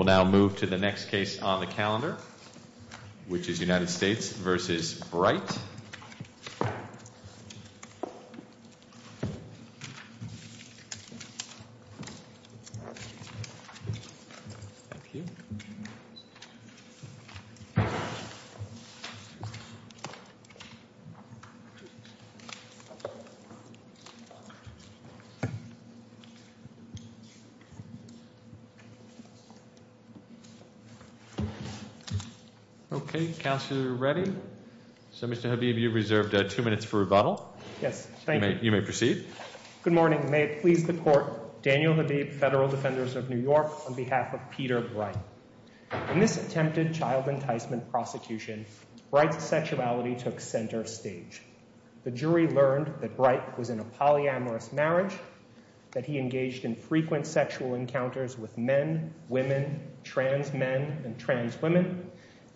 We'll now move to the next case on the calendar, which is United States v. Bright. Okay, Counselor Reddy. So Mr. Habib, you've reserved two minutes for rebuttal. Yes, thank you. You may proceed. Good morning. May it please the Court, Daniel Habib, Federal Defenders of New York, on behalf of Peter Bright. In this attempted child enticement prosecution, Bright's sexuality took center stage. The jury learned that Bright was in a polyamorous marriage, that he engaged in frequent sexual encounters with men, women, trans men, and trans women,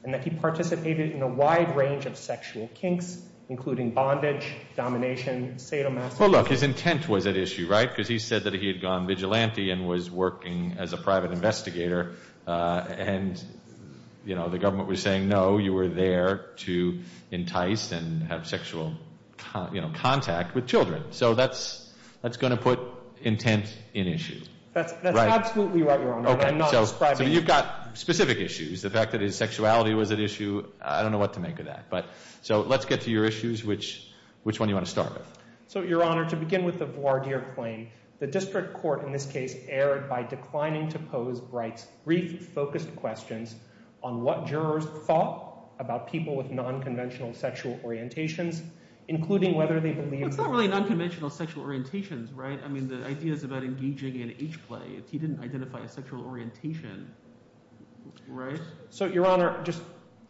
and that he participated in a wide range of sexual kinks, including bondage, domination, sadomasochism... Well, look, his intent was at issue, right? Because he said that he had gone vigilante and was working as a private investigator, and, you know, the government was saying, no, you were there to entice and have sexual, you know, contact with children. So that's going to put intent in issue. That's absolutely right, Your Honor, and I'm not ascribing... So you've got specific issues. The fact that his sexuality was at issue, I don't know what to make of that. So let's get to your issues. Which one do you want to start with? So, Your Honor, to begin with the voir dire claim, the district court in this case erred by declining to pose Bright's brief, focused questions on what jurors thought about people with nonconventional sexual orientations, including whether they believed... It's not really nonconventional sexual orientations, right? I mean, the idea is about engaging in H-play. He didn't identify a sexual orientation, right? So, Your Honor, just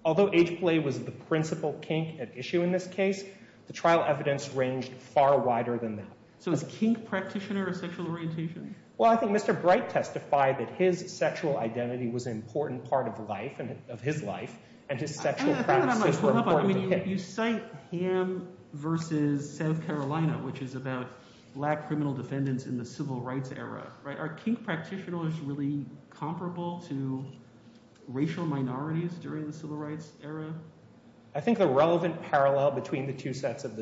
although H-play was the principal kink at issue in this case, the trial evidence ranged far wider than that. So is kink practitioner a sexual orientation? Well, I think Mr. Bright testified that his sexual identity was an important part of life, of his life, and his sexual practices were important to him. You cite Ham versus South Carolina, which is about black criminal defendants in the civil rights era, right? Are kink practitioners really comparable to racial minorities during the civil rights era? I think the relevant parallel between the two sets of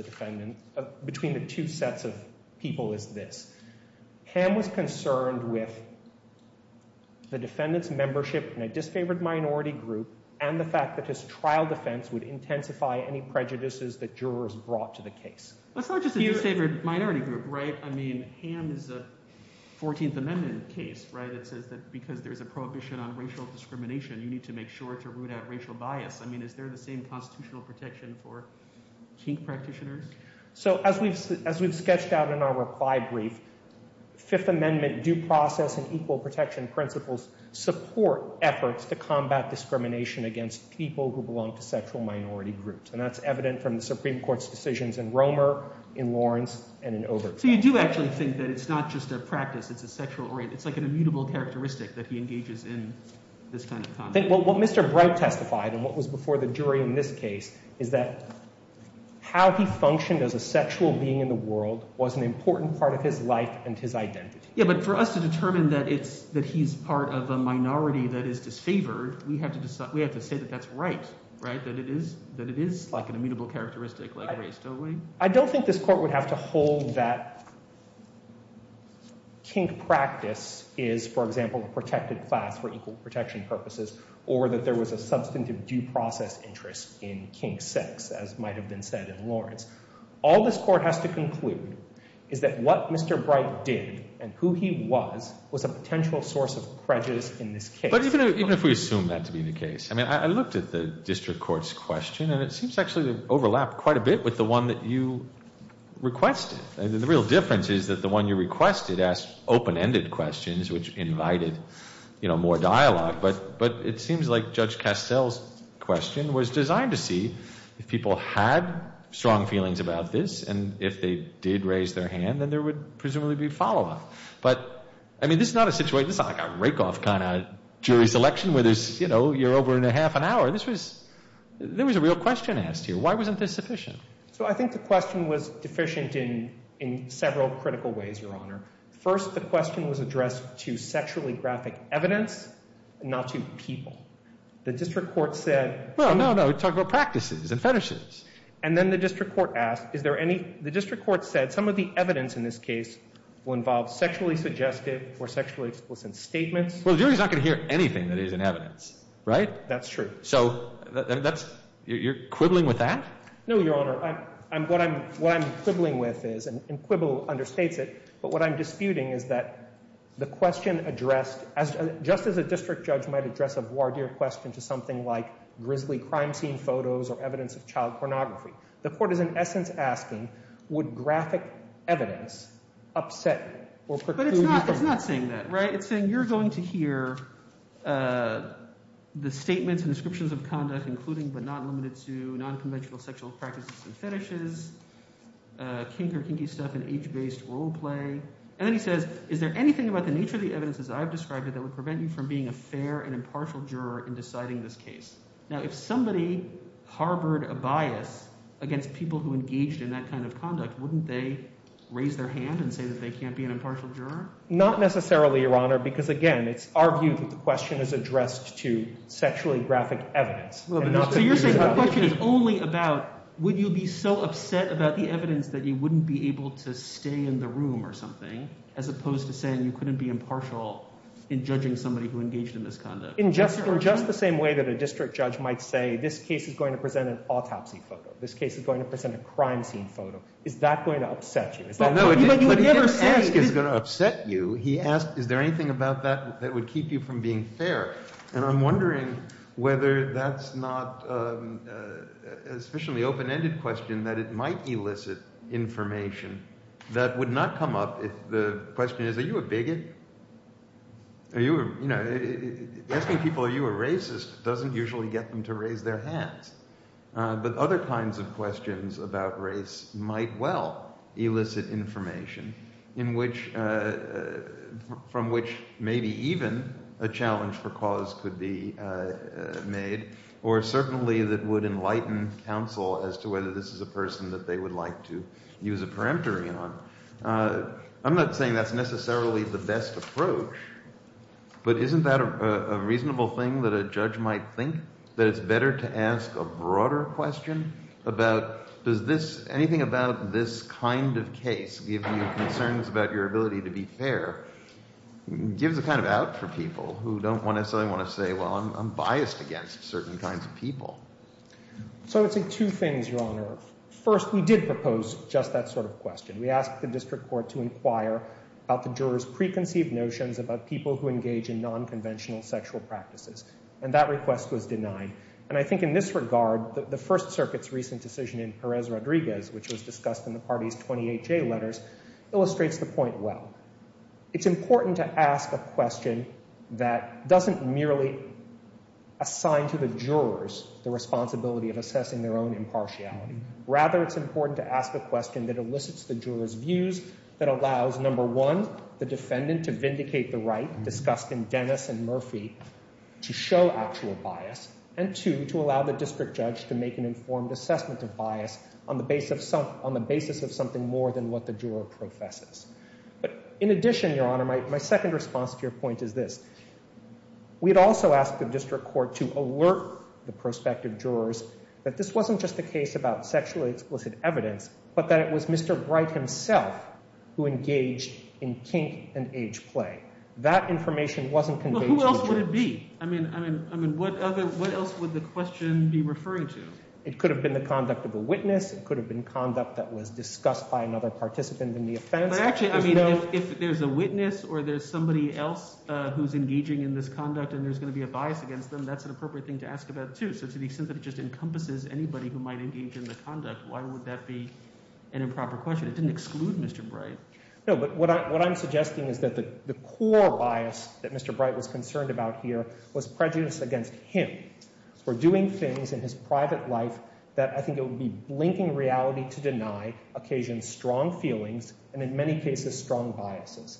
people is this. Ham was concerned with the defendant's membership in a disfavored minority group and the fact that his trial defense would intensify any prejudices that jurors brought to the case. That's not just a disfavored minority group, right? I mean, Ham is a 14th Amendment case, right? It says that because there's a prohibition on racial discrimination, you need to make sure to root out racial bias. I mean, is there the same constitutional protection for kink practitioners? So as we've sketched out in our reply brief, Fifth Amendment due process and equal protection principles support efforts to combat discrimination against people who belong to sexual minority groups. And that's evident from the Supreme Court's decisions in Romer, in Lawrence, and in Overton. So you do actually think that it's not just a practice, it's a sexual orientation, it's like an immutable characteristic that he engages in this kind of content? What Mr. Brout testified and what was before the jury in this case is that how he functioned as a sexual being in the world was an important part of his life and his identity. Yeah, but for us to determine that he's part of a minority that is disfavored, we have to say that that's right, right? That it is like an immutable characteristic like race, don't we? I don't think this court would have to hold that kink practice is, for example, a protected class for equal protection purposes, or that there was a substantive due process interest in kink sex, as might have been said in Lawrence. All this court has to conclude is that what Mr. Brout did and who he was was a potential source of prejudice in this case. But even if we assume that to be the case, I mean, I looked at the district court's question, and it seems actually to overlap quite a bit with the one that you requested. The real difference is that the one you requested asked open-ended questions, which invited more dialogue. But it seems like Judge Castel's question was designed to see if people had strong feelings about this, and if they did raise their hand, then there would presumably be follow-up. But, I mean, this is not a situation, this is not like a rake-off kind of jury selection where there's, you know, you're over in a half an hour. This was, there was a real question asked here. Why wasn't this sufficient? So I think the question was deficient in several critical ways, Your Honor. First, the question was addressed to sexually graphic evidence, not to people. The district court said... Well, no, no, we're talking about practices and fetishes. And then the district court asked, is there any, the district court said some of the evidence in this case will involve sexually suggestive or sexually explicit statements. Well, the jury's not going to hear anything that isn't evidence, right? That's true. So that's, you're quibbling with that? No, Your Honor. What I'm quibbling with is, and Quibble understates it, but what I'm disputing is that the question addressed, just as a district judge might address a voir dire question to something like grisly crime scene photos or evidence of child abuse, child pornography, the court is in essence asking, would graphic evidence upset or preclude... But it's not saying that, right? It's saying you're going to hear the statements and descriptions of conduct including but not limited to nonconventional sexual practices and fetishes, kink or kinky stuff in age-based role play. And then he says, is there anything about the nature of the evidence as I've described it that would prevent you from being a fair and impartial juror in deciding this case? Now, if somebody harbored a bias against people who engaged in that kind of conduct, wouldn't they raise their hand and say that they can't be an impartial juror? Not necessarily, Your Honor, because, again, it's our view that the question is addressed to sexually graphic evidence. So you're saying the question is only about would you be so upset about the evidence that you wouldn't be able to stay in the room or something as opposed to saying you couldn't be impartial in judging somebody who engaged in this conduct? In just the same way that a district judge might say this case is going to present an autopsy photo, this case is going to present a crime scene photo. Is that going to upset you? But he didn't ask, is it going to upset you? He asked, is there anything about that that would keep you from being fair? And I'm wondering whether that's not a sufficiently open-ended question that it might elicit information that would not come up if the question is, are you a bigot? Asking people, are you a racist, doesn't usually get them to raise their hands. But other kinds of questions about race might well elicit information in which – from which maybe even a challenge for cause could be made or certainly that would enlighten counsel as to whether this is a person that they would like to use a peremptory on. I'm not saying that's necessarily the best approach, but isn't that a reasonable thing that a judge might think that it's better to ask a broader question about does this – anything about this kind of case give you concerns about your ability to be fair? It gives a kind of out for people who don't necessarily want to say, well, I'm biased against certain kinds of people. So I would say two things, Your Honor. First, we did propose just that sort of question. We asked the district court to inquire about the jurors' preconceived notions about people who engage in nonconventional sexual practices. And that request was denied. And I think in this regard, the First Circuit's recent decision in Perez-Rodriguez, which was discussed in the party's 28-J letters, illustrates the point well. It's important to ask a question that doesn't merely assign to the jurors the responsibility of assessing their own impartiality. Rather, it's important to ask a question that elicits the jurors' views, that allows, number one, the defendant to vindicate the right discussed in Dennis and Murphy to show actual bias, and two, to allow the district judge to make an informed assessment of bias on the basis of something more than what the juror professes. But in addition, Your Honor, my second response to your point is this. We had also asked the district court to alert the prospective jurors that this wasn't just a case about sexually explicit evidence, but that it was Mr. Bright himself who engaged in kink and age play. That information wasn't conveyed to the jurors. Well, who else would it be? I mean, what else would the question be referring to? It could have been the conduct of a witness. It could have been conduct that was discussed by another participant in the offense. But actually, I mean, if there's a witness or there's somebody else who's engaging in this conduct and there's going to be a bias against them, that's an appropriate thing to ask about, too. So to the extent that it just encompasses anybody who might engage in the conduct, why would that be an improper question? It didn't exclude Mr. Bright. No, but what I'm suggesting is that the core bias that Mr. Bright was concerned about here was prejudice against him for doing things in his private life that I think it would be blinking reality to deny occasion strong feelings. And in many cases, strong biases.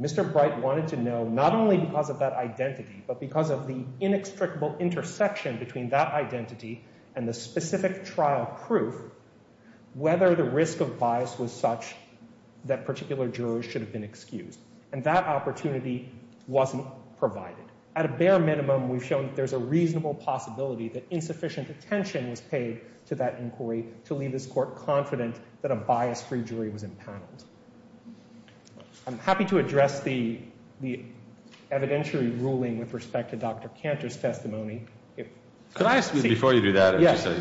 Mr. Bright wanted to know, not only because of that identity, but because of the inextricable intersection between that identity and the specific trial proof, whether the risk of bias was such that particular jurors should have been excused. And that opportunity wasn't provided. At a bare minimum, we've shown that there's a reasonable possibility that insufficient attention was paid to that inquiry to leave this court confident that a bias-free jury was impaneled. I'm happy to address the evidentiary ruling with respect to Dr. Cantor's testimony. Could I ask you, before you do that,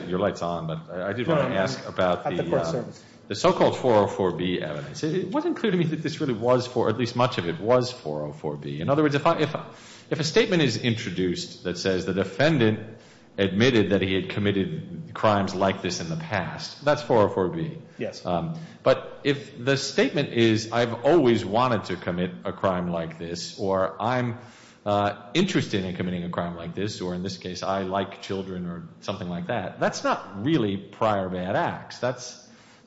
your light's on, but I did want to ask about the so-called 404B evidence. It wasn't clear to me that this really was, or at least much of it was 404B. In other words, if a statement is introduced that says the defendant admitted that he had committed crimes like this in the past, that's 404B. Yes. But if the statement is, I've always wanted to commit a crime like this, or I'm interested in committing a crime like this, or in this case, I like children or something like that, that's not really prior bad acts. That's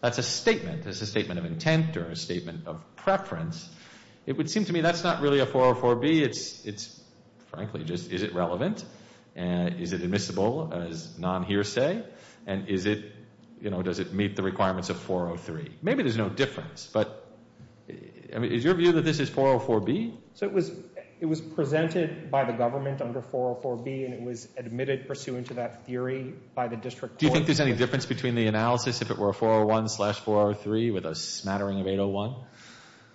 a statement. That's a statement of intent or a statement of preference. It would seem to me that's not really a 404B. It's frankly just, is it relevant? Is it admissible as non-hearsay? And is it, you know, does it meet the requirements of 403? Maybe there's no difference, but is your view that this is 404B? So it was presented by the government under 404B, and it was admitted pursuant to that theory by the district court. Do you think there's any difference between the analysis if it were a 401 slash 403 with a smattering of 801?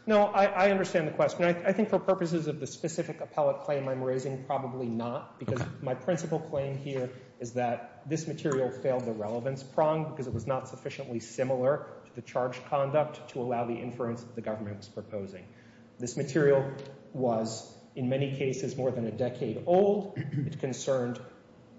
No, I understand the question. I think for purposes of the specific appellate claim I'm raising, probably not, because my principal claim here is that this material failed the relevance prong because it was not sufficiently similar to the charge conduct to allow the inference that the government was proposing. This material was, in many cases, more than a decade old. It concerned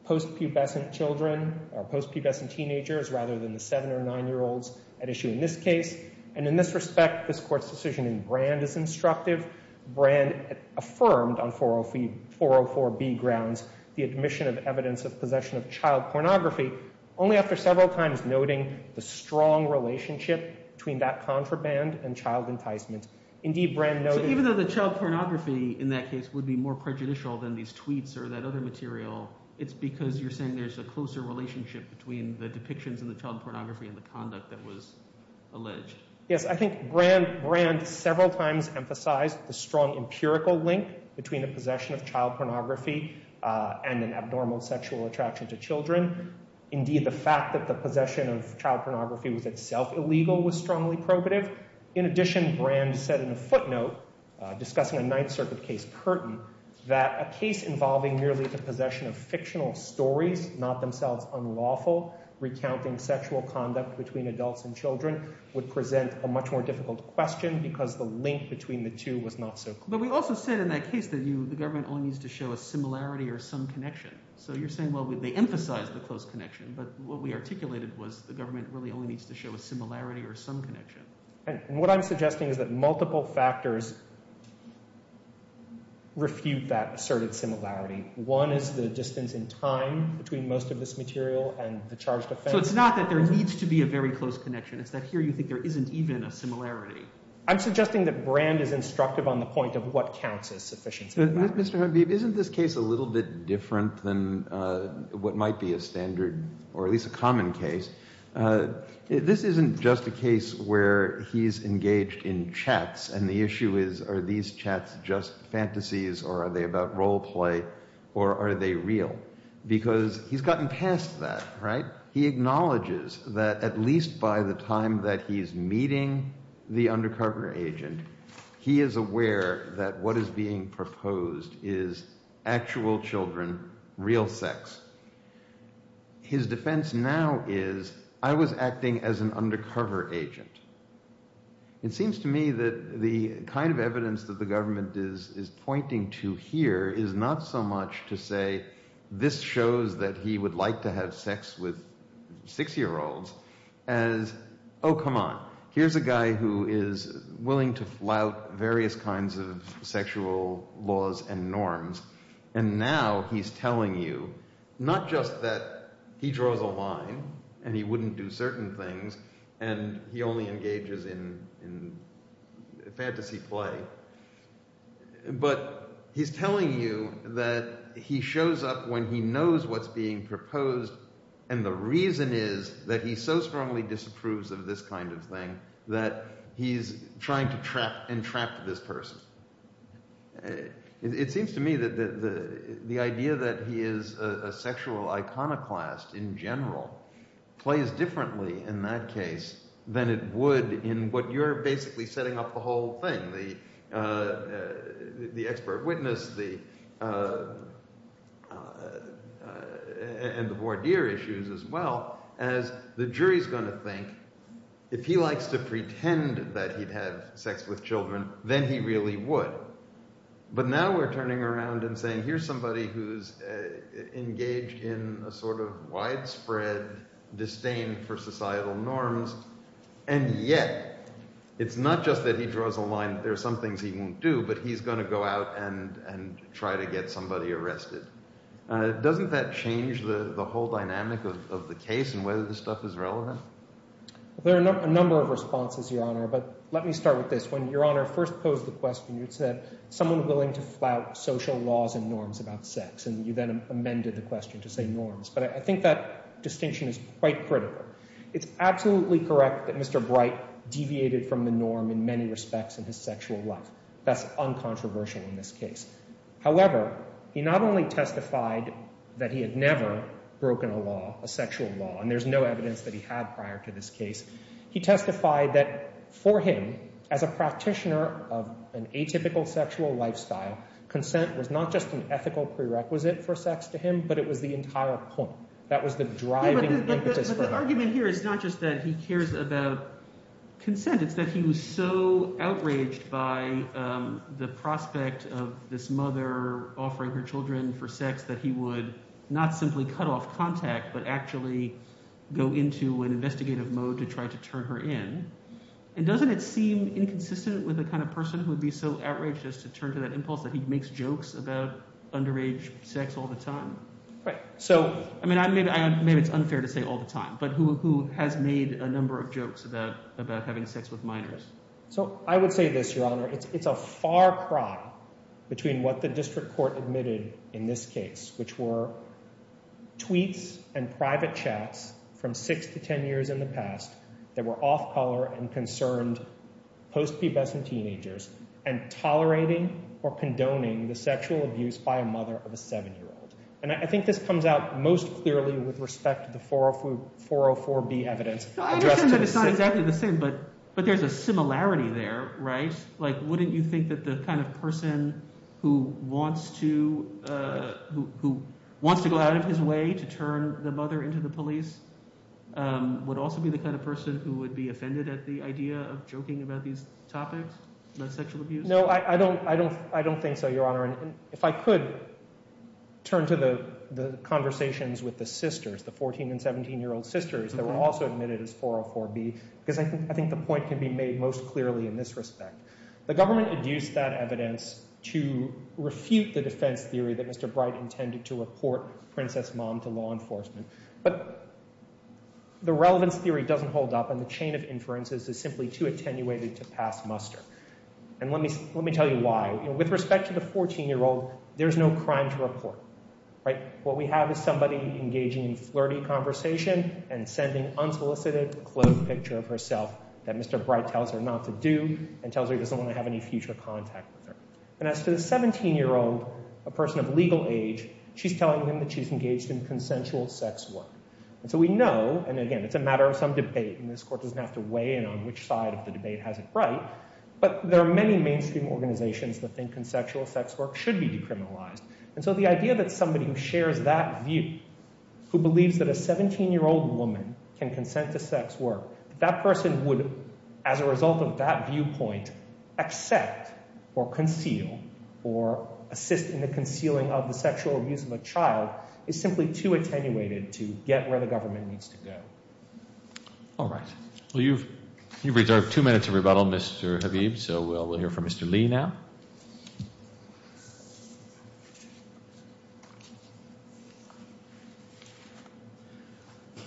post-pubescent children or post-pubescent teenagers rather than the 7- or 9-year-olds at issue in this case. And in this respect, this Court's decision in Brand is instructive. Brand affirmed on 404B grounds the admission of evidence of possession of child pornography only after several times noting the strong relationship between that contraband and child enticement. So even though the child pornography in that case would be more prejudicial than these tweets or that other material, it's because you're saying there's a closer relationship between the depictions of the child pornography and the conduct that was alleged. Yes, I think Brand several times emphasized the strong empirical link between a possession of child pornography and an abnormal sexual attraction to children. Indeed, the fact that the possession of child pornography was itself illegal was strongly probative. In addition, Brand said in a footnote discussing a Ninth Circuit case, Curtin, that a case involving merely the possession of fictional stories, not themselves unlawful, recounting sexual conduct between adults and children would present a much more difficult question because the link between the two was not so clear. But we also said in that case that the government only needs to show a similarity or some connection. So you're saying, well, they emphasized the close connection, but what we articulated was the government really only needs to show a similarity or some connection. And what I'm suggesting is that multiple factors refute that asserted similarity. One is the distance in time between most of this material and the charged offense. So it's not that there needs to be a very close connection. It's that here you think there isn't even a similarity. I'm suggesting that Brand is instructive on the point of what counts as sufficiency. Mr. Habib, isn't this case a little bit different than what might be a standard or at least a common case? This isn't just a case where he's engaged in chats and the issue is are these chats just fantasies or are they about role play or are they real? Because he's gotten past that, right? He acknowledges that at least by the time that he's meeting the undercover agent, he is aware that what is being proposed is actual children, real sex. His defense now is I was acting as an undercover agent. It seems to me that the kind of evidence that the government is pointing to here is not so much to say this shows that he would like to have sex with six-year-olds as, oh, come on. Here's a guy who is willing to flout various kinds of sexual laws and norms. And now he's telling you not just that he draws a line and he wouldn't do certain things and he only engages in fantasy play, but he's telling you that he shows up when he knows what's being proposed. And the reason is that he so strongly disapproves of this kind of thing that he's trying to entrap this person. It seems to me that the idea that he is a sexual iconoclast in general plays differently in that case than it would in what you're basically setting up the whole thing. The expert witness and the voir dire issues as well as the jury is going to think if he likes to pretend that he'd have sex with children, then he really would. But now we're turning around and saying here's somebody who's engaged in a sort of widespread disdain for societal norms, and yet it's not just that he draws a line that there are some things he won't do, but he's going to go out and try to get somebody arrested. Doesn't that change the whole dynamic of the case and whether this stuff is relevant? There are a number of responses, Your Honor, but let me start with this. When Your Honor first posed the question, you said someone willing to flout social laws and norms about sex, and you then amended the question to say norms. But I think that distinction is quite critical. It's absolutely correct that Mr. Bright deviated from the norm in many respects in his sexual life. That's uncontroversial in this case. However, he not only testified that he had never broken a law, a sexual law, and there's no evidence that he had prior to this case. He testified that for him as a practitioner of an atypical sexual lifestyle, consent was not just an ethical prerequisite for sex to him, but it was the entire point. That was the driving impetus for him. So his argument here is not just that he cares about consent. It's that he was so outraged by the prospect of this mother offering her children for sex that he would not simply cut off contact but actually go into an investigative mode to try to turn her in. And doesn't it seem inconsistent with the kind of person who would be so outraged as to turn to that impulse that he makes jokes about underage sex all the time? I mean maybe it's unfair to say all the time, but who has made a number of jokes about having sex with minors? So I would say this, Your Honor. It's a far cry between what the district court admitted in this case, which were tweets and private chats from 6 to 10 years in the past that were off-color and concerned post-pubescent teenagers and tolerating or condoning the sexual abuse by a mother of a 7-year-old. And I think this comes out most clearly with respect to the 404B evidence. I understand that it's not exactly the same, but there's a similarity there, right? Like wouldn't you think that the kind of person who wants to go out of his way to turn the mother into the police would also be the kind of person who would be offended at the idea of joking about these topics about sexual abuse? No, I don't think so, Your Honor. And if I could turn to the conversations with the sisters, the 14- and 17-year-old sisters that were also admitted as 404B, because I think the point can be made most clearly in this respect. The government adduced that evidence to refute the defense theory that Mr. Bright intended to report Princess Mom to law enforcement. But the relevance theory doesn't hold up, and the chain of inferences is simply too attenuated to pass muster. And let me tell you why. With respect to the 14-year-old, there's no crime to report, right? What we have is somebody engaging in flirty conversation and sending unsolicited, cloaked picture of herself that Mr. Bright tells her not to do and tells her he doesn't want to have any future contact with her. And as to the 17-year-old, a person of legal age, she's telling him that she's engaged in consensual sex work. And so we know, and again, it's a matter of some debate, and this Court doesn't have to weigh in on which side of the debate has it right. But there are many mainstream organizations that think consensual sex work should be decriminalized. And so the idea that somebody who shares that view, who believes that a 17-year-old woman can consent to sex work, that that person would, as a result of that viewpoint, accept or conceal or assist in the concealing of the sexual abuse of a child, is simply too attenuated to get where the government needs to go. All right. Well, you've reserved two minutes of rebuttal, Mr. Habib. So we'll hear from Mr. Lee now.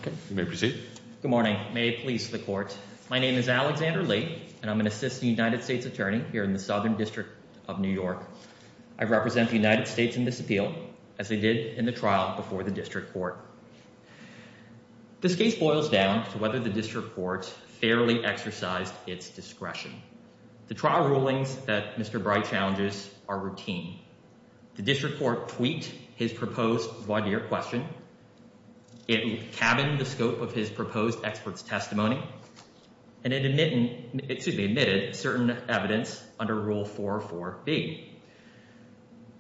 Okay, you may proceed. Good morning. May it please the Court. My name is Alexander Lee, and I'm an assistant United States attorney here in the Southern District of New York. I represent the United States in this appeal, as I did in the trial before the district court. This case boils down to whether the district court fairly exercised its discretion. The trial rulings that Mr. Bright challenges are routine. The district court tweaked his proposed voir dire question. It cabined the scope of his proposed expert's testimony, and it admitted certain evidence under Rule 4.4.B.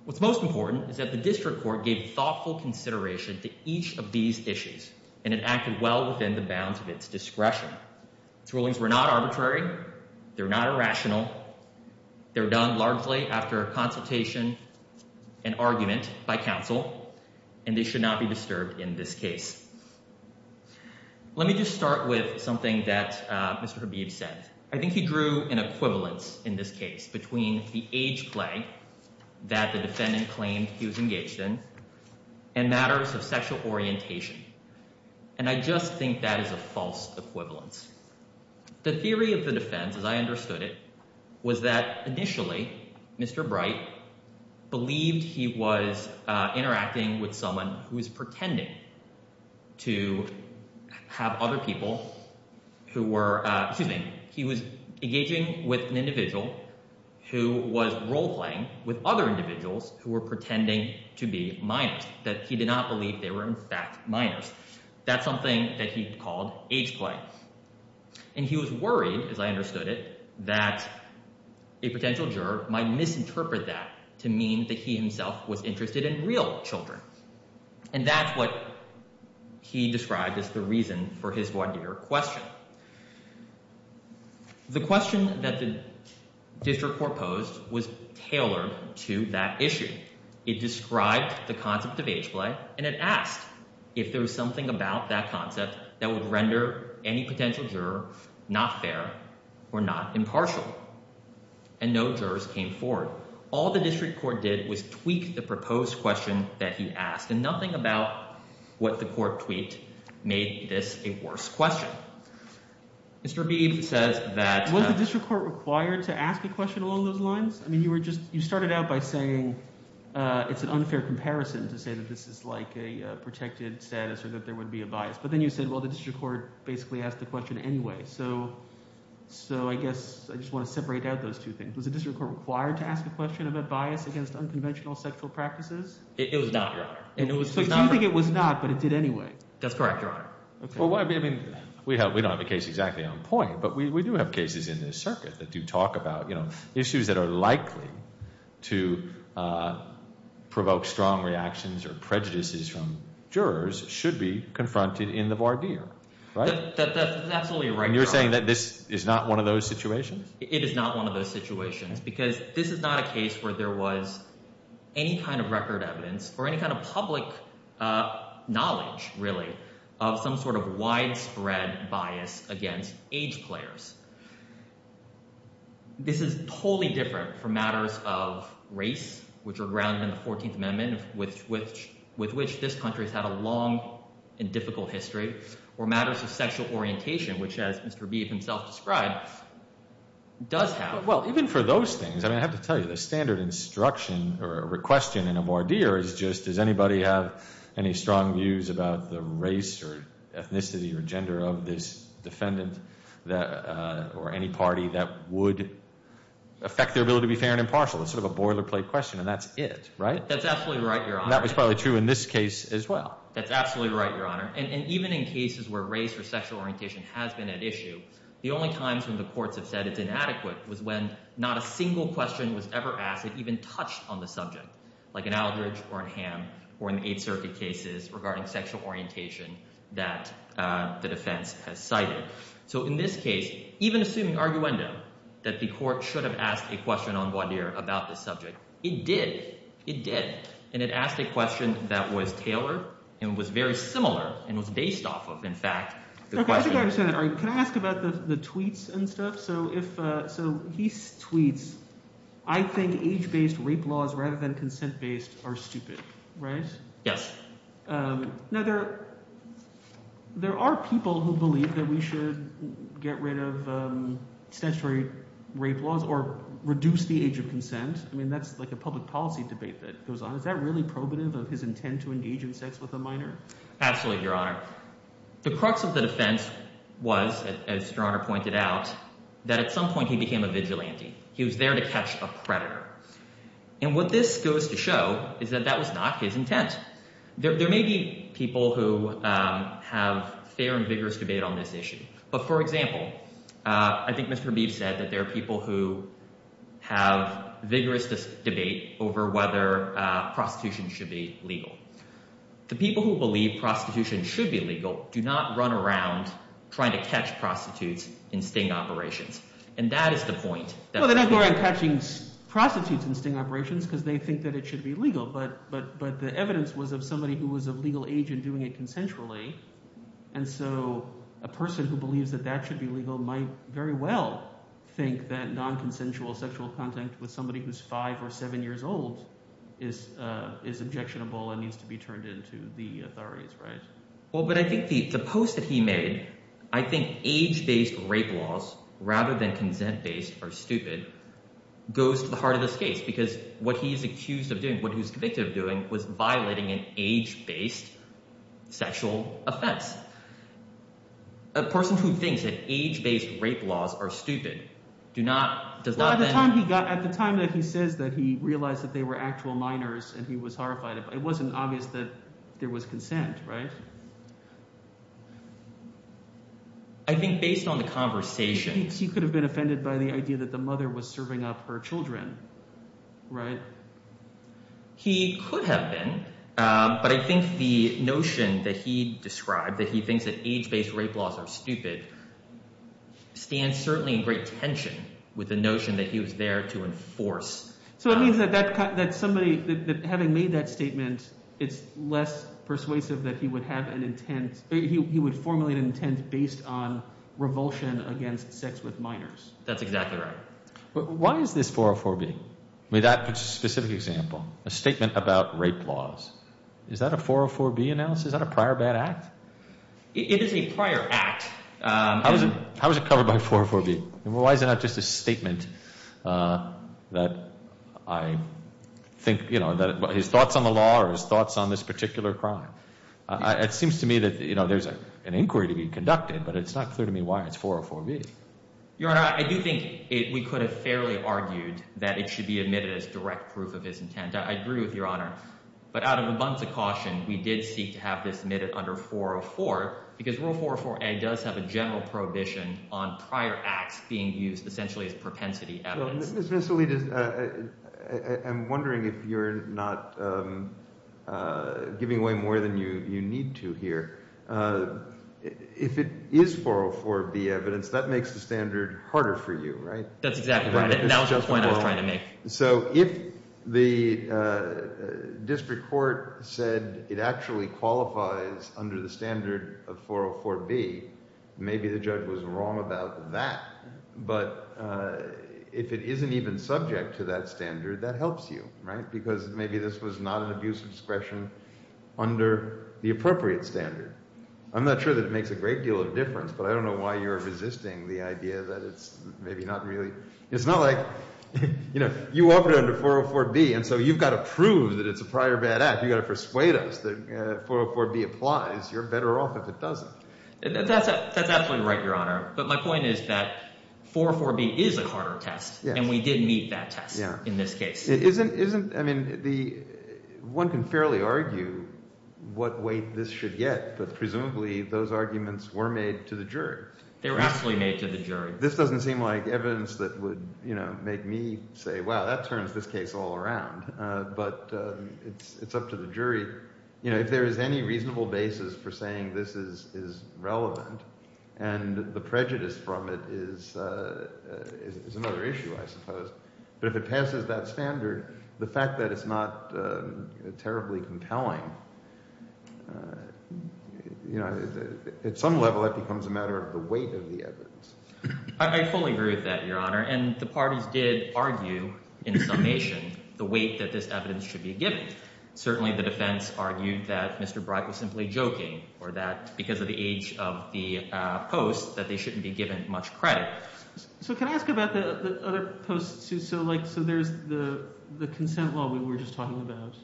What's most important is that the district court gave thoughtful consideration to each of these issues, and it acted well within the bounds of its discretion. Its rulings were not arbitrary. They're not irrational. They were done largely after a consultation and argument by counsel, and they should not be disturbed in this case. Let me just start with something that Mr. Habib said. I think he drew an equivalence in this case between the age plague that the defendant claimed he was engaged in and matters of sexual orientation, and I just think that is a false equivalence. The theory of the defense, as I understood it, was that initially Mr. Bright believed he was interacting with someone who was pretending to have other people who were – excuse me. He was engaging with an individual who was role-playing with other individuals who were pretending to be minors, that he did not believe they were in fact minors. That's something that he called age play, and he was worried, as I understood it, that a potential juror might misinterpret that to mean that he himself was interested in real children, and that's what he described as the reason for his voir dire question. The question that the district court posed was tailored to that issue. It described the concept of age play, and it asked if there was something about that concept that would render any potential juror not fair or not impartial, and no jurors came forward. All the district court did was tweak the proposed question that he asked, and nothing about what the court tweaked made this a worse question. Mr. Beebe says that… Was the district court required to ask a question along those lines? I mean you were just – you started out by saying it's an unfair comparison to say that this is like a protected status or that there would be a bias. But then you said, well, the district court basically asked the question anyway, so I guess I just want to separate out those two things. Was the district court required to ask a question about bias against unconventional sexual practices? It was not, Your Honor. So you think it was not, but it did anyway? That's correct, Your Honor. Well, I mean we don't have a case exactly on point, but we do have cases in this circuit that do talk about issues that are likely to provoke strong reactions or prejudices from jurors should be confronted in the voir dire. That's absolutely right, Your Honor. And you're saying that this is not one of those situations? It is not one of those situations because this is not a case where there was any kind of record evidence or any kind of public knowledge really of some sort of widespread bias against age players. This is totally different from matters of race, which are grounded in the 14th Amendment, with which this country has had a long and difficult history, or matters of sexual orientation, which as Mr. Beef himself described, does have. Well, even for those things, I mean I have to tell you the standard instruction or question in a voir dire is just does anybody have any strong views about the race or ethnicity or gender of this defendant or any party that would affect their ability to be fair and impartial? It's sort of a boilerplate question, and that's it, right? That's absolutely right, Your Honor. And that was probably true in this case as well. That's absolutely right, Your Honor. And even in cases where race or sexual orientation has been at issue, the only times when the courts have said it's inadequate was when not a single question was ever asked that even touched on the subject, like in Aldridge or in Ham or in the Eighth Circuit cases regarding sexual orientation that the defense has cited. So in this case, even assuming arguendo that the court should have asked a question on voir dire about this subject, it did. It did, and it asked a question that was tailored and was very similar and was based off of, in fact, the question. Okay, I think I understand that. Can I ask about the tweets and stuff? So if – so he tweets, I think age-based rape laws rather than consent-based are stupid, right? Yes. Now, there are people who believe that we should get rid of statutory rape laws or reduce the age of consent. I mean that's like a public policy debate that goes on. Is that really probative of his intent to engage in sex with a minor? Absolutely, Your Honor. The crux of the defense was, as Your Honor pointed out, that at some point he became a vigilante. He was there to catch a predator. And what this goes to show is that that was not his intent. There may be people who have fair and vigorous debate on this issue. But, for example, I think Mr. Beeb said that there are people who have vigorous debate over whether prostitution should be legal. The people who believe prostitution should be legal do not run around trying to catch prostitutes in sting operations, and that is the point. Well, they're not going around catching prostitutes in sting operations because they think that it should be legal. But the evidence was of somebody who was of legal age and doing it consensually. And so a person who believes that that should be legal might very well think that non-consensual sexual contact with somebody who's five or seven years old is objectionable and needs to be turned in to the authorities, right? Well, but I think the post that he made, I think age-based rape laws rather than consent-based are stupid, goes to the heart of this case because what he is accused of doing, what he was convicted of doing, was violating an age-based sexual offense. A person who thinks that age-based rape laws are stupid do not – does not then… At the time that he says that he realized that they were actual minors and he was horrified, it wasn't obvious that there was consent, right? I think based on the conversation… He could have been offended by the idea that the mother was serving up her children, right? He could have been, but I think the notion that he described, that he thinks that age-based rape laws are stupid, stands certainly in great tension with the notion that he was there to enforce. So it means that somebody – that having made that statement, it's less persuasive that he would have an intent – he would formulate an intent based on revulsion against sex with minors. That's exactly right. Why is this 404B? I mean that specific example, a statement about rape laws. Is that a 404B analysis? Is that a prior bad act? It is a prior act. How is it covered by 404B? Why is it not just a statement that I think – his thoughts on the law or his thoughts on this particular crime? It seems to me that there's an inquiry to be conducted, but it's not clear to me why it's 404B. Your Honor, I do think we could have fairly argued that it should be admitted as direct proof of his intent. I agree with Your Honor, but out of a bunch of caution, we did seek to have this admitted under 404 because Rule 404A does have a general prohibition on prior acts being used essentially as propensity evidence. Ms. Alita, I'm wondering if you're not giving away more than you need to here. If it is 404B evidence, that makes the standard harder for you, right? That's exactly right, and that was the point I was trying to make. So if the district court said it actually qualifies under the standard of 404B, maybe the judge was wrong about that. But if it isn't even subject to that standard, that helps you because maybe this was not an abuse of discretion under the appropriate standard. I'm not sure that it makes a great deal of difference, but I don't know why you're resisting the idea that it's maybe not really – it's not like – you offered it under 404B, and so you've got to prove that it's a prior bad act. You've got to persuade us that 404B applies. You're better off if it doesn't. That's absolutely right, Your Honor, but my point is that 404B is a Carter test, and we did meet that test in this case. It isn't – I mean the – one can fairly argue what weight this should get, but presumably those arguments were made to the jury. They were actually made to the jury. This doesn't seem like evidence that would make me say, wow, that turns this case all around, but it's up to the jury. If there is any reasonable basis for saying this is relevant and the prejudice from it is another issue, I suppose. But if it passes that standard, the fact that it's not terribly compelling, at some level that becomes a matter of the weight of the evidence. I fully agree with that, Your Honor, and the parties did argue in summation the weight that this evidence should be given. Certainly the defense argued that Mr. Breit was simply joking or that because of the age of the post that they shouldn't be given much credit. So can I ask about the other posts? So there's the consent law we were just talking about,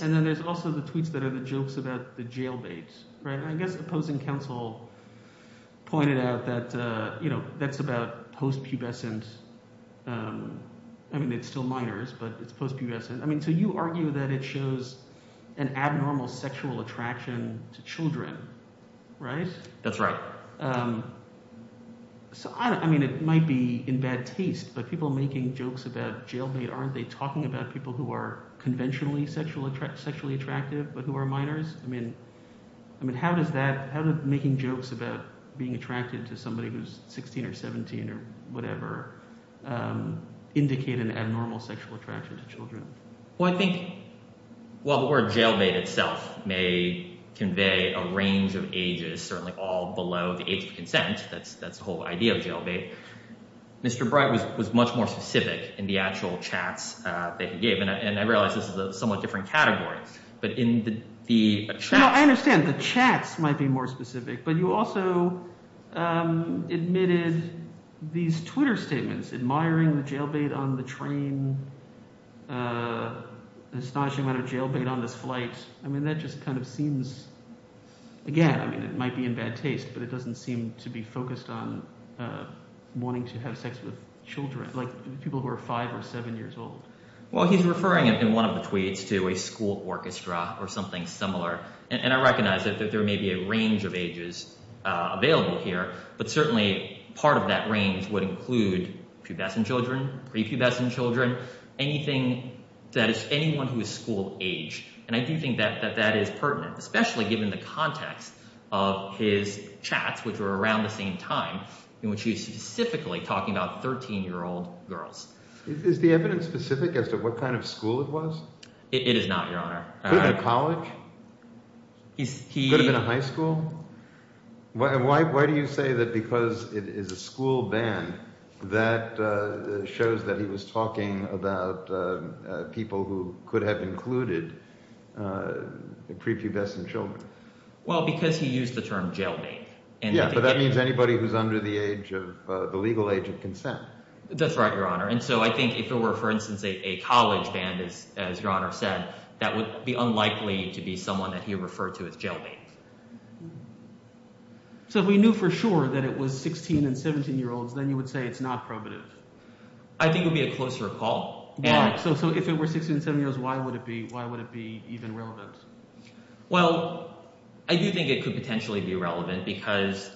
and then there's also the tweets that are the jokes about the jailbait. I guess the opposing counsel pointed out that that's about post-pubescent – I mean it's still minors, but it's post-pubescent. I mean so you argue that it shows an abnormal sexual attraction to children, right? That's right. So I mean it might be in bad taste, but people making jokes about jailbait, aren't they talking about people who are conventionally sexually attractive but who are minors? I mean how does that – how does making jokes about being attracted to somebody who's 16 or 17 or whatever indicate an abnormal sexual attraction to children? Well, I think while the word jailbait itself may convey a range of ages, certainly all below the age of consent – that's the whole idea of jailbait. Mr. Breit was much more specific in the actual chats that he gave, and I realize this is a somewhat different category. No, I understand. The chats might be more specific, but you also admitted these Twitter statements, admiring the jailbait on the train, astonishing amount of jailbait on this flight. I mean that just kind of seems – again, I mean it might be in bad taste, but it doesn't seem to be focused on wanting to have sex with children, like people who are five or seven years old. Well, he's referring in one of the tweets to a school orchestra or something similar, and I recognize that there may be a range of ages available here, but certainly part of that range would include pubescent children, prepubescent children, anything that is – anyone who is school-aged. And I do think that that is pertinent, especially given the context of his chats, which were around the same time, in which he was specifically talking about 13-year-old girls. Is the evidence specific as to what kind of school it was? It is not, Your Honor. Could it have been a college? Could it have been a high school? Why do you say that because it is a school band, that shows that he was talking about people who could have included prepubescent children? Well, because he used the term jailbait. Yeah, but that means anybody who's under the age of – the legal age of consent. That's right, Your Honor. And so I think if it were, for instance, a college band, as Your Honor said, that would be unlikely to be someone that he referred to as jailbait. So if we knew for sure that it was 16- and 17-year-olds, then you would say it's not probative? I think it would be a closer call. So if it were 16- and 17-year-olds, why would it be even relevant? Well, I do think it could potentially be relevant because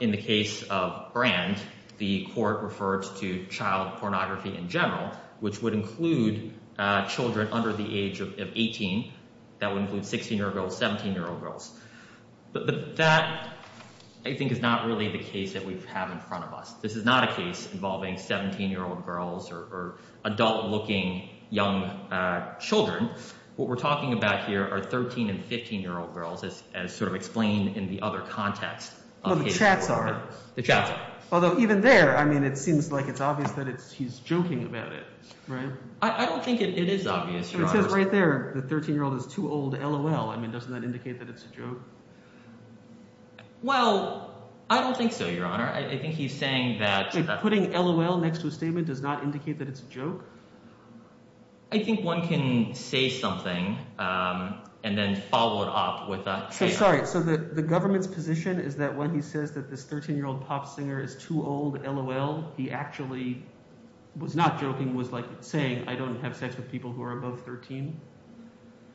in the case of Brand, the court refers to child pornography in general, which would include children under the age of 18. That would include 16-year-old girls, 17-year-old girls. But that, I think, is not really the case that we have in front of us. This is not a case involving 17-year-old girls or adult-looking young children. What we're talking about here are 13- and 15-year-old girls as sort of explained in the other context. Well, the chats are. The chats are. Although even there, I mean, it seems like it's obvious that he's joking about it. I don't think it is obvious, Your Honor. It says right there the 13-year-old is too old, LOL. I mean, doesn't that indicate that it's a joke? Well, I don't think so, Your Honor. I think he's saying that – Putting LOL next to a statement does not indicate that it's a joke? I think one can say something and then follow it up with a statement. So, sorry. So the government's position is that when he says that this 13-year-old pop singer is too old, LOL, he actually was not joking, was like saying I don't have sex with people who are above 13?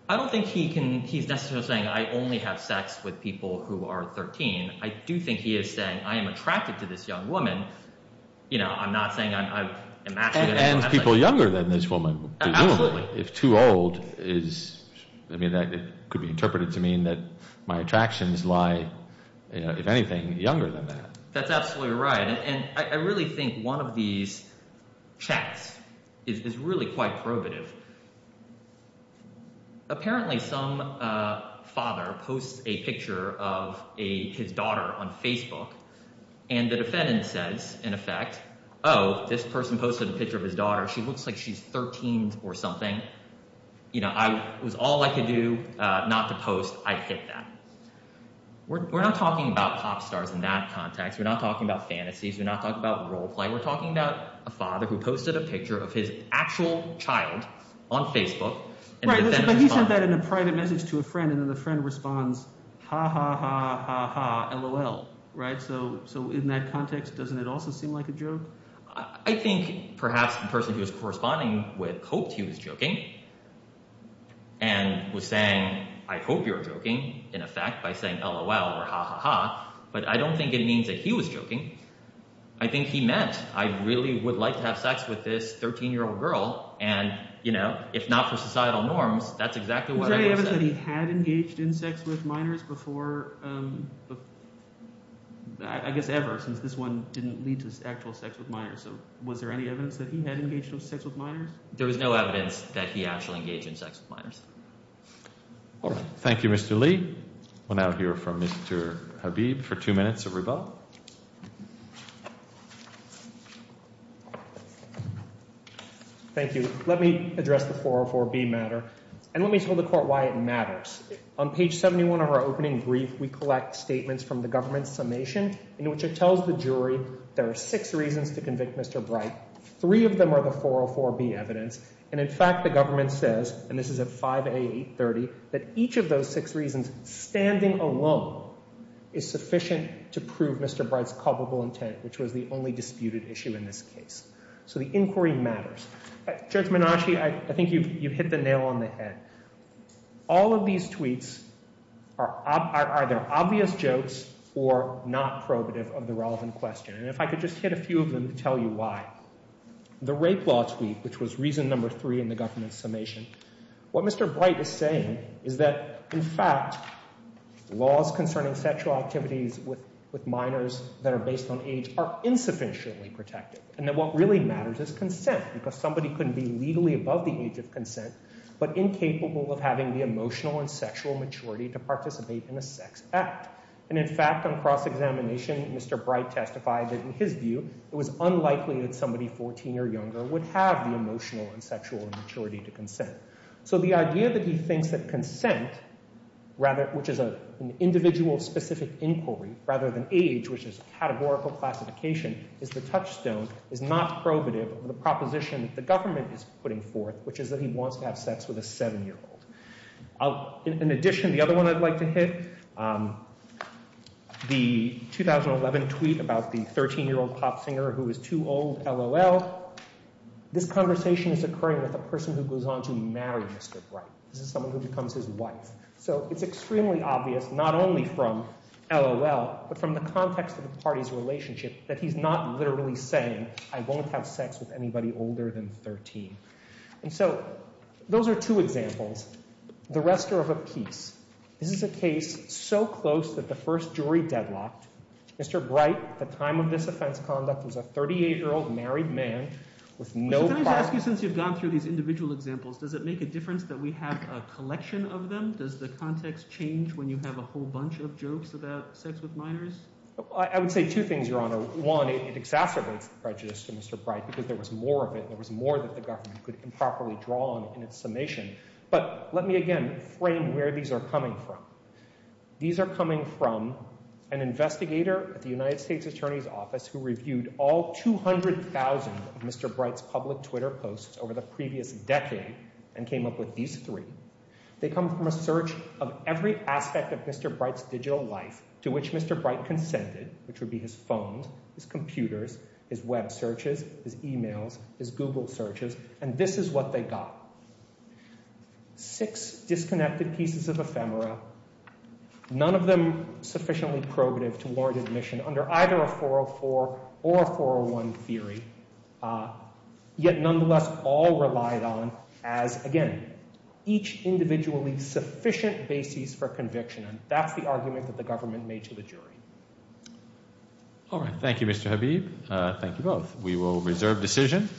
I don't think he can – he's necessarily saying I only have sex with people who are 13. I do think he is saying I am attracted to this young woman. I'm not saying I'm – And people younger than this woman. Absolutely. If too old is – I mean it could be interpreted to mean that my attractions lie, if anything, younger than that. That's absolutely right, and I really think one of these chats is really quite probative. Apparently some father posts a picture of his daughter on Facebook, and the defendant says, in effect, oh, this person posted a picture of his daughter. She looks like she's 13 or something. It was all I could do not to post. I'd hit that. We're not talking about pop stars in that context. We're not talking about fantasies. We're not talking about role play. We're talking about a father who posted a picture of his actual child on Facebook. Right, but he sent that in a private message to a friend, and then the friend responds, ha, ha, ha, ha, LOL. So in that context, doesn't it also seem like a joke? I think perhaps the person who was corresponding with hoped he was joking and was saying I hope you're joking in effect by saying LOL or ha, ha, ha. But I don't think it means that he was joking. I think he meant I really would like to have sex with this 13-year-old girl, and if not for societal norms, that's exactly what I would say. Was there any evidence that he had engaged in sex with minors before – I guess ever since this one didn't lead to actual sex with minors. So was there any evidence that he had engaged in sex with minors? There was no evidence that he actually engaged in sex with minors. All right. Thank you, Mr. Lee. We'll now hear from Mr. Habib for two minutes of rebuttal. Thank you. Let me address the 404B matter, and let me tell the Court why it matters. On page 71 of our opening brief, we collect statements from the government's summation in which it tells the jury there are six reasons to convict Mr. Bright. Three of them are the 404B evidence, and in fact the government says, and this is at 5A830, that each of those six reasons standing alone is sufficient to prove Mr. Bright's culpable intent, which was the only disputed issue in this case. So the inquiry matters. Judge Menache, I think you've hit the nail on the head. All of these tweets are either obvious jokes or not probative of the relevant question. And if I could just hit a few of them to tell you why. The rape law tweet, which was reason number three in the government's summation, what Mr. Bright is saying is that, in fact, laws concerning sexual activities with minors that are based on age are insufficiently protected, and that what really matters is consent, because somebody couldn't be legally above the age of consent but incapable of having the emotional and sexual maturity to participate in a sex act. And in fact, on cross-examination, Mr. Bright testified that, in his view, it was unlikely that somebody 14 or younger would have the emotional and sexual maturity to consent. So the idea that he thinks that consent, which is an individual-specific inquiry, rather than age, which is a categorical classification, is the touchstone, is not probative of the proposition that the government is putting forth, which is that he wants to have sex with a seven-year-old. In addition, the other one I'd like to hit, the 2011 tweet about the 13-year-old pop singer who is too old, LOL, this conversation is occurring with a person who goes on to marry Mr. Bright. This is someone who becomes his wife. So it's extremely obvious, not only from LOL, but from the context of the party's relationship, that he's not literally saying, I won't have sex with anybody older than 13. And so those are two examples. The rest are of a piece. This is a case so close that the first jury deadlocked. Mr. Bright, at the time of this offense conduct, was a 38-year-old married man with no partner. Can I just ask you, since you've gone through these individual examples, does it make a difference that we have a collection of them? Does the context change when you have a whole bunch of jokes about sex with minors? I would say two things, Your Honor. One, it exacerbates the prejudice to Mr. Bright because there was more of it, there was more that the government could improperly draw on in its summation. But let me again frame where these are coming from. These are coming from an investigator at the United States Attorney's Office who reviewed all 200,000 of Mr. Bright's public Twitter posts over the previous decade and came up with these three. They come from a search of every aspect of Mr. Bright's digital life to which Mr. Bright consented, which would be his phone, his computers, his web searches, his e-mails, his Google searches, and this is what they got. Six disconnected pieces of ephemera, none of them sufficiently probative to warrant admission under either a 404 or a 401 theory, yet nonetheless all relied on as, again, each individually sufficient basis for conviction. That's the argument that the government made to the jury. All right. Thank you, Mr. Habib. Thank you both. We will reserve decision.